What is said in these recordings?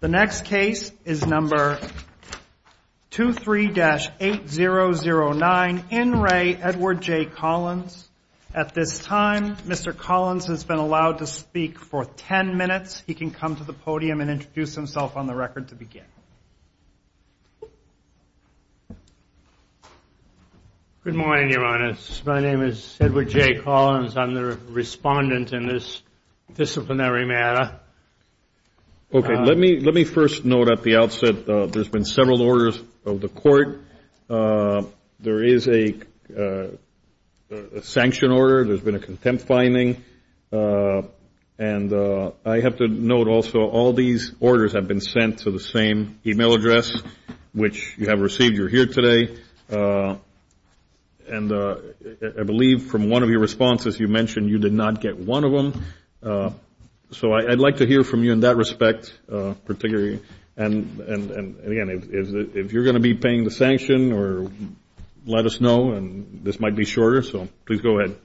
The next case is number 23-8009, in Re, Edward J. Collins. At this time, Mr. Collins has been allowed to speak for 10 minutes. He can come to the podium and introduce himself on the record to begin. Good morning, Your Honors. My name is Edward J. Collins. I'm the respondent in this disciplinary matter. Okay. Let me first note at the outset there's been several orders of the court. There is a sanction order. There's been a contempt finding. And I have to note also all these orders have been sent to the same e-mail address, which you have received. You're here today. And I believe from one of your responses, you mentioned you did not get one of them. So I'd like to hear from you in that respect, particularly. And, again, if you're going to be paying the sanction, let us know, and this might be shorter. So please go ahead.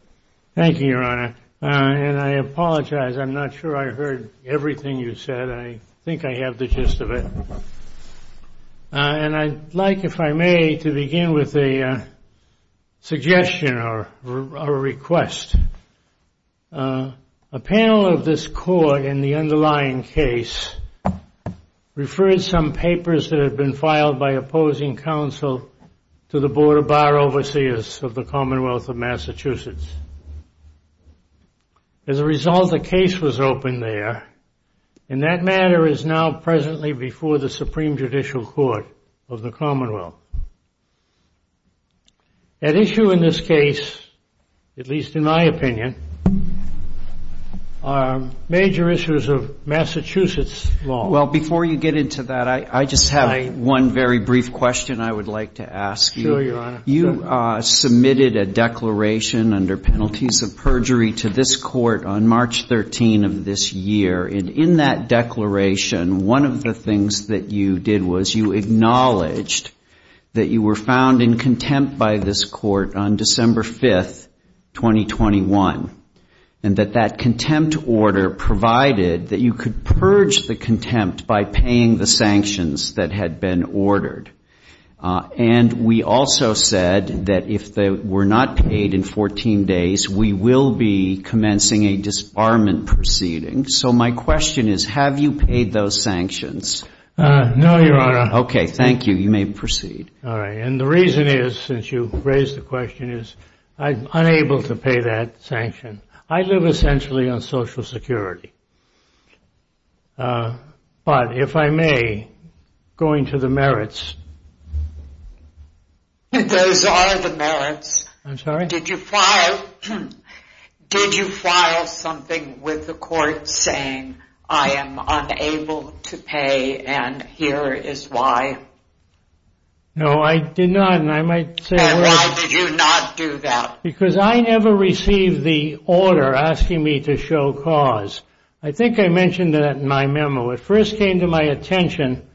Thank you, Your Honor. And I apologize. I'm not sure I heard everything you said. I think I have the gist of it. And I'd like, if I may, to begin with a suggestion or a request. A panel of this court in the underlying case referred some papers that had been filed by opposing counsel to the Board of Bar Overseers of the Commonwealth of Massachusetts. As a result, a case was opened there. And that matter is now presently before the Supreme Judicial Court of the Commonwealth. At issue in this case, at least in my opinion, are major issues of Massachusetts law. Well, before you get into that, I just have one very brief question I would like to ask you. Sure, Your Honor. You submitted a declaration under penalties of perjury to this court on March 13 of this year. And in that declaration, one of the things that you did was you acknowledged that you were found in contempt by this court on December 5, 2021, and that that contempt order provided that you could purge the contempt by paying the sanctions that had been ordered. And we also said that if they were not paid in 14 days, we will be commencing a disbarment proceeding. So my question is, have you paid those sanctions? No, Your Honor. Okay, thank you. You may proceed. All right. And the reason is, since you raised the question, is I'm unable to pay that sanction. I live essentially on Social Security. But if I may, going to the merits. Those are the merits. I'm sorry? Did you file something with the court saying, I am unable to pay and here is why? No, I did not. And I might say why. And why did you not do that? Because I never received the order asking me to show cause. I think I mentioned that in my memo. It first came to my attention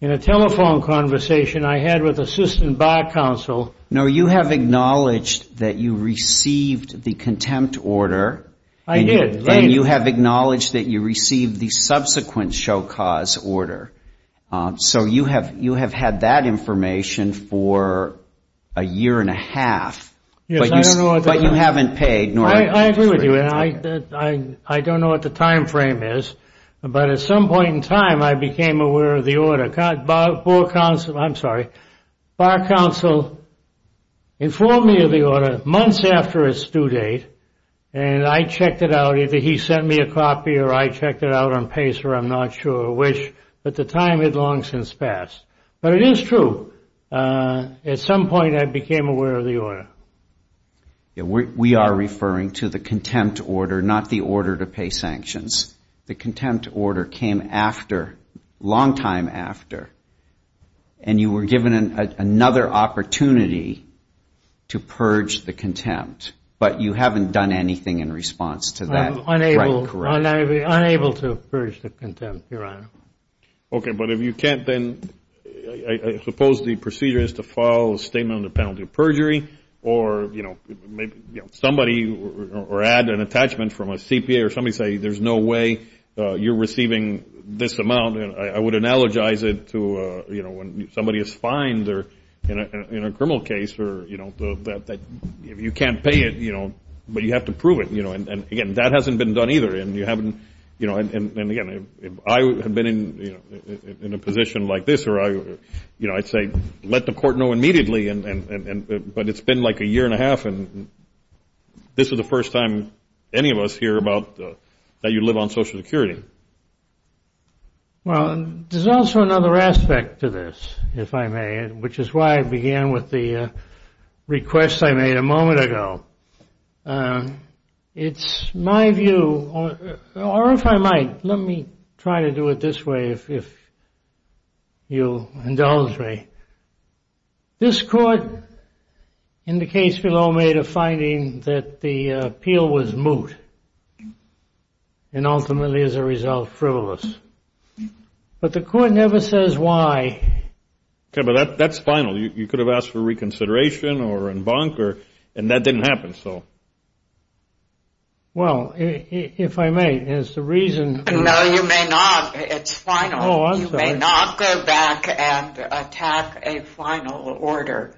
in a telephone conversation I had with Assistant Bar Counsel. No, you have acknowledged that you received the contempt order. I did. And you have acknowledged that you received the subsequent show cause order. So you have had that information for a year and a half. But you haven't paid. I agree with you. And I don't know what the time frame is. But at some point in time, I became aware of the order. Bar Counsel informed me of the order months after its due date. And I checked it out. Either he sent me a copy or I checked it out on Pace or I'm not sure which. But the time had long since passed. But it is true. At some point, I became aware of the order. We are referring to the contempt order, not the order to pay sanctions. The contempt order came after, long time after, and you were given another opportunity to purge the contempt. But you haven't done anything in response to that. I'm unable to purge the contempt, Your Honor. Okay. But if you can't, then I suppose the procedure is to file a statement on the penalty of perjury or somebody or add an attachment from a CPA or somebody say, there's no way you're receiving this amount. I would analogize it to when somebody is fined in a criminal case that you can't pay it, but you have to prove it. And, again, that hasn't been done either. And, again, if I had been in a position like this, I'd say let the court know immediately. But it's been like a year and a half, and this is the first time any of us hear about that you live on Social Security. Well, there's also another aspect to this, if I may, which is why I began with the request I made a moment ago. It's my view, or if I might, let me try to do it this way if you'll indulge me. This court in the case below made a finding that the appeal was moot and ultimately as a result frivolous. But the court never says why. Okay, but that's final. You could have asked for reconsideration or embunk, and that didn't happen. Well, if I may, as the reason. No, you may not. It's final. Oh, I'm sorry. You may not go back and attack a final order.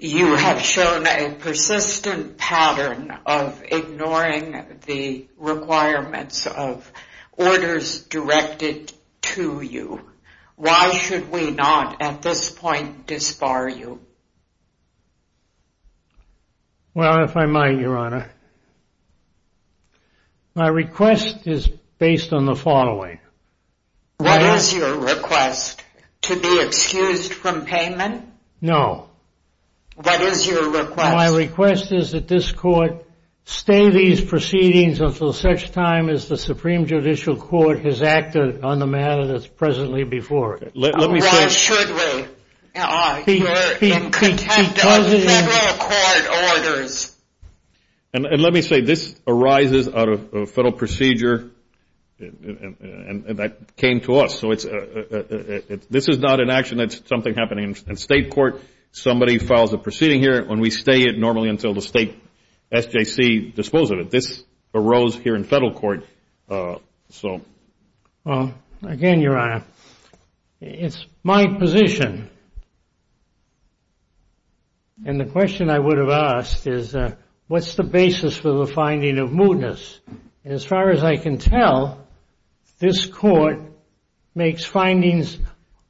You have shown a persistent pattern of ignoring the requirements of orders directed to you. Why should we not at this point disbar you? Well, if I might, Your Honor. My request is based on the following. What is your request? To be excused from payment? No. What is your request? My request is that this court stay these proceedings until such time as the Supreme Judicial Court has acted on the matter that's presently before it. Why should we? We're in contempt of federal court orders. And let me say, this arises out of a federal procedure that came to us. So this is not an action that's something happening in state court. Somebody files a proceeding here, and we stay it normally until the state SJC disposes of it. But this arose here in federal court. Well, again, Your Honor, it's my position. And the question I would have asked is, what's the basis for the finding of mootness? And as far as I can tell, this court makes findings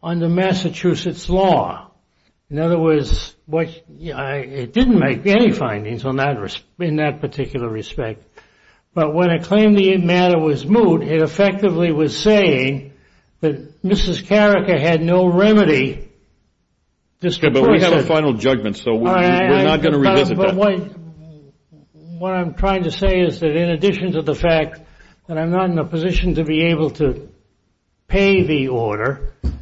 under Massachusetts law. In other words, it didn't make any findings in that particular respect. But when it claimed the matter was moot, it effectively was saying that Mrs. Carica had no remedy. But we have a final judgment, so we're not going to revisit that. But what I'm trying to say is that in addition to the fact that I'm not in a position to be able to pay the order. You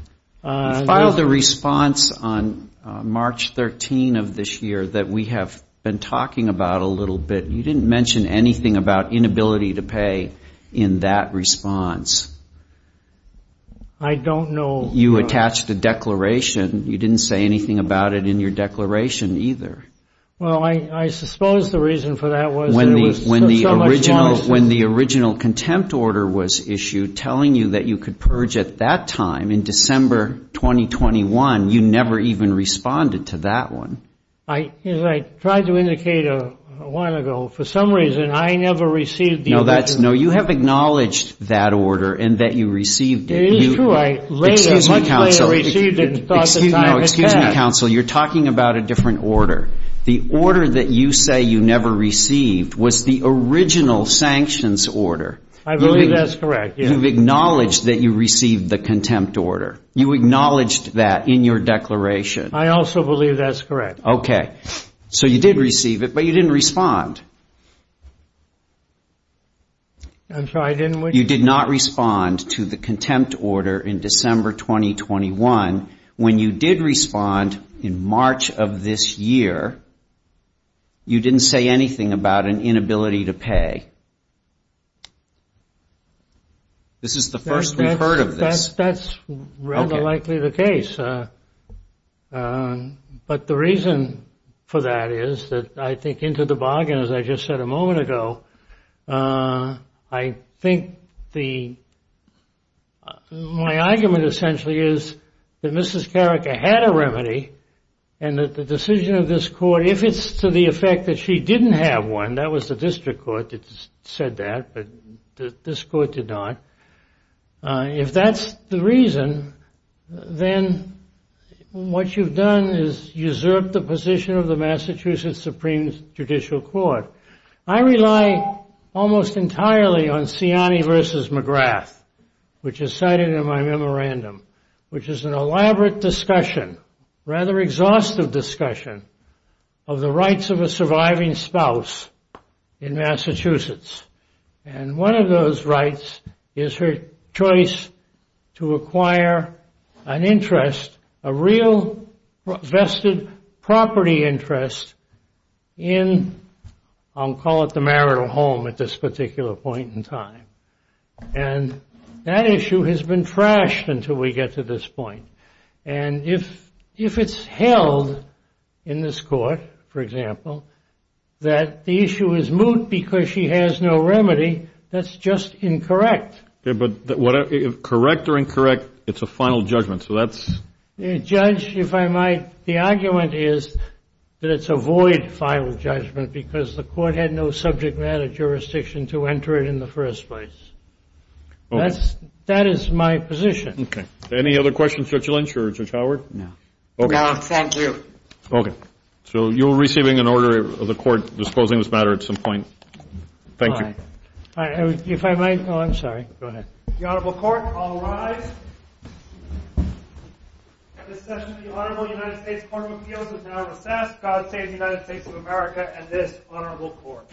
filed a response on March 13 of this year that we have been talking about a little bit. You didn't mention anything about inability to pay in that response. I don't know. You attached a declaration. You didn't say anything about it in your declaration either. Well, I suppose the reason for that was there was so much law enforcement. telling you that you could purge at that time in December 2021. You never even responded to that one. As I tried to indicate a while ago, for some reason, I never received the order. No, you have acknowledged that order and that you received it. It is true. I later much later received it and thought the time had passed. No, excuse me, counsel. You're talking about a different order. The order that you say you never received was the original sanctions order. I believe that's correct. You've acknowledged that you received the contempt order. You acknowledged that in your declaration. I also believe that's correct. Okay. So you did receive it, but you didn't respond. I'm sorry. You did not respond to the contempt order in December 2021. When you did respond in March of this year, you didn't say anything about an inability to pay. This is the first we've heard of this. That's rather likely the case. But the reason for that is that I think into the bargain, as I just said a moment ago, I think my argument essentially is that Mrs. Carrick had a remedy, and that the decision of this court, if it's to the effect that she didn't have one, and that was the district court that said that, but this court did not, if that's the reason, then what you've done is usurped the position of the Massachusetts Supreme Judicial Court. I rely almost entirely on Siani v. McGrath, which is cited in my memorandum, which is an elaborate discussion, rather exhaustive discussion, of the rights of a surviving spouse in Massachusetts. And one of those rights is her choice to acquire an interest, a real vested property interest, in I'll call it the marital home at this particular point in time. And that issue has been thrashed until we get to this point. And if it's held in this court, for example, that the issue is moot because she has no remedy, that's just incorrect. But correct or incorrect, it's a final judgment, so that's... Judge, if I might, the argument is that it's a void final judgment because the court had no subject matter jurisdiction to enter it in the first place. That is my position. Any other questions, Judge Lynch or Judge Howard? No. No, thank you. Okay. So you're receiving an order of the court disposing of this matter at some point. Thank you. If I might... Oh, I'm sorry. Go ahead. The Honorable Court, all rise. This session of the Honorable United States Court of Appeals is now recessed. God save the United States of America and this Honorable Court.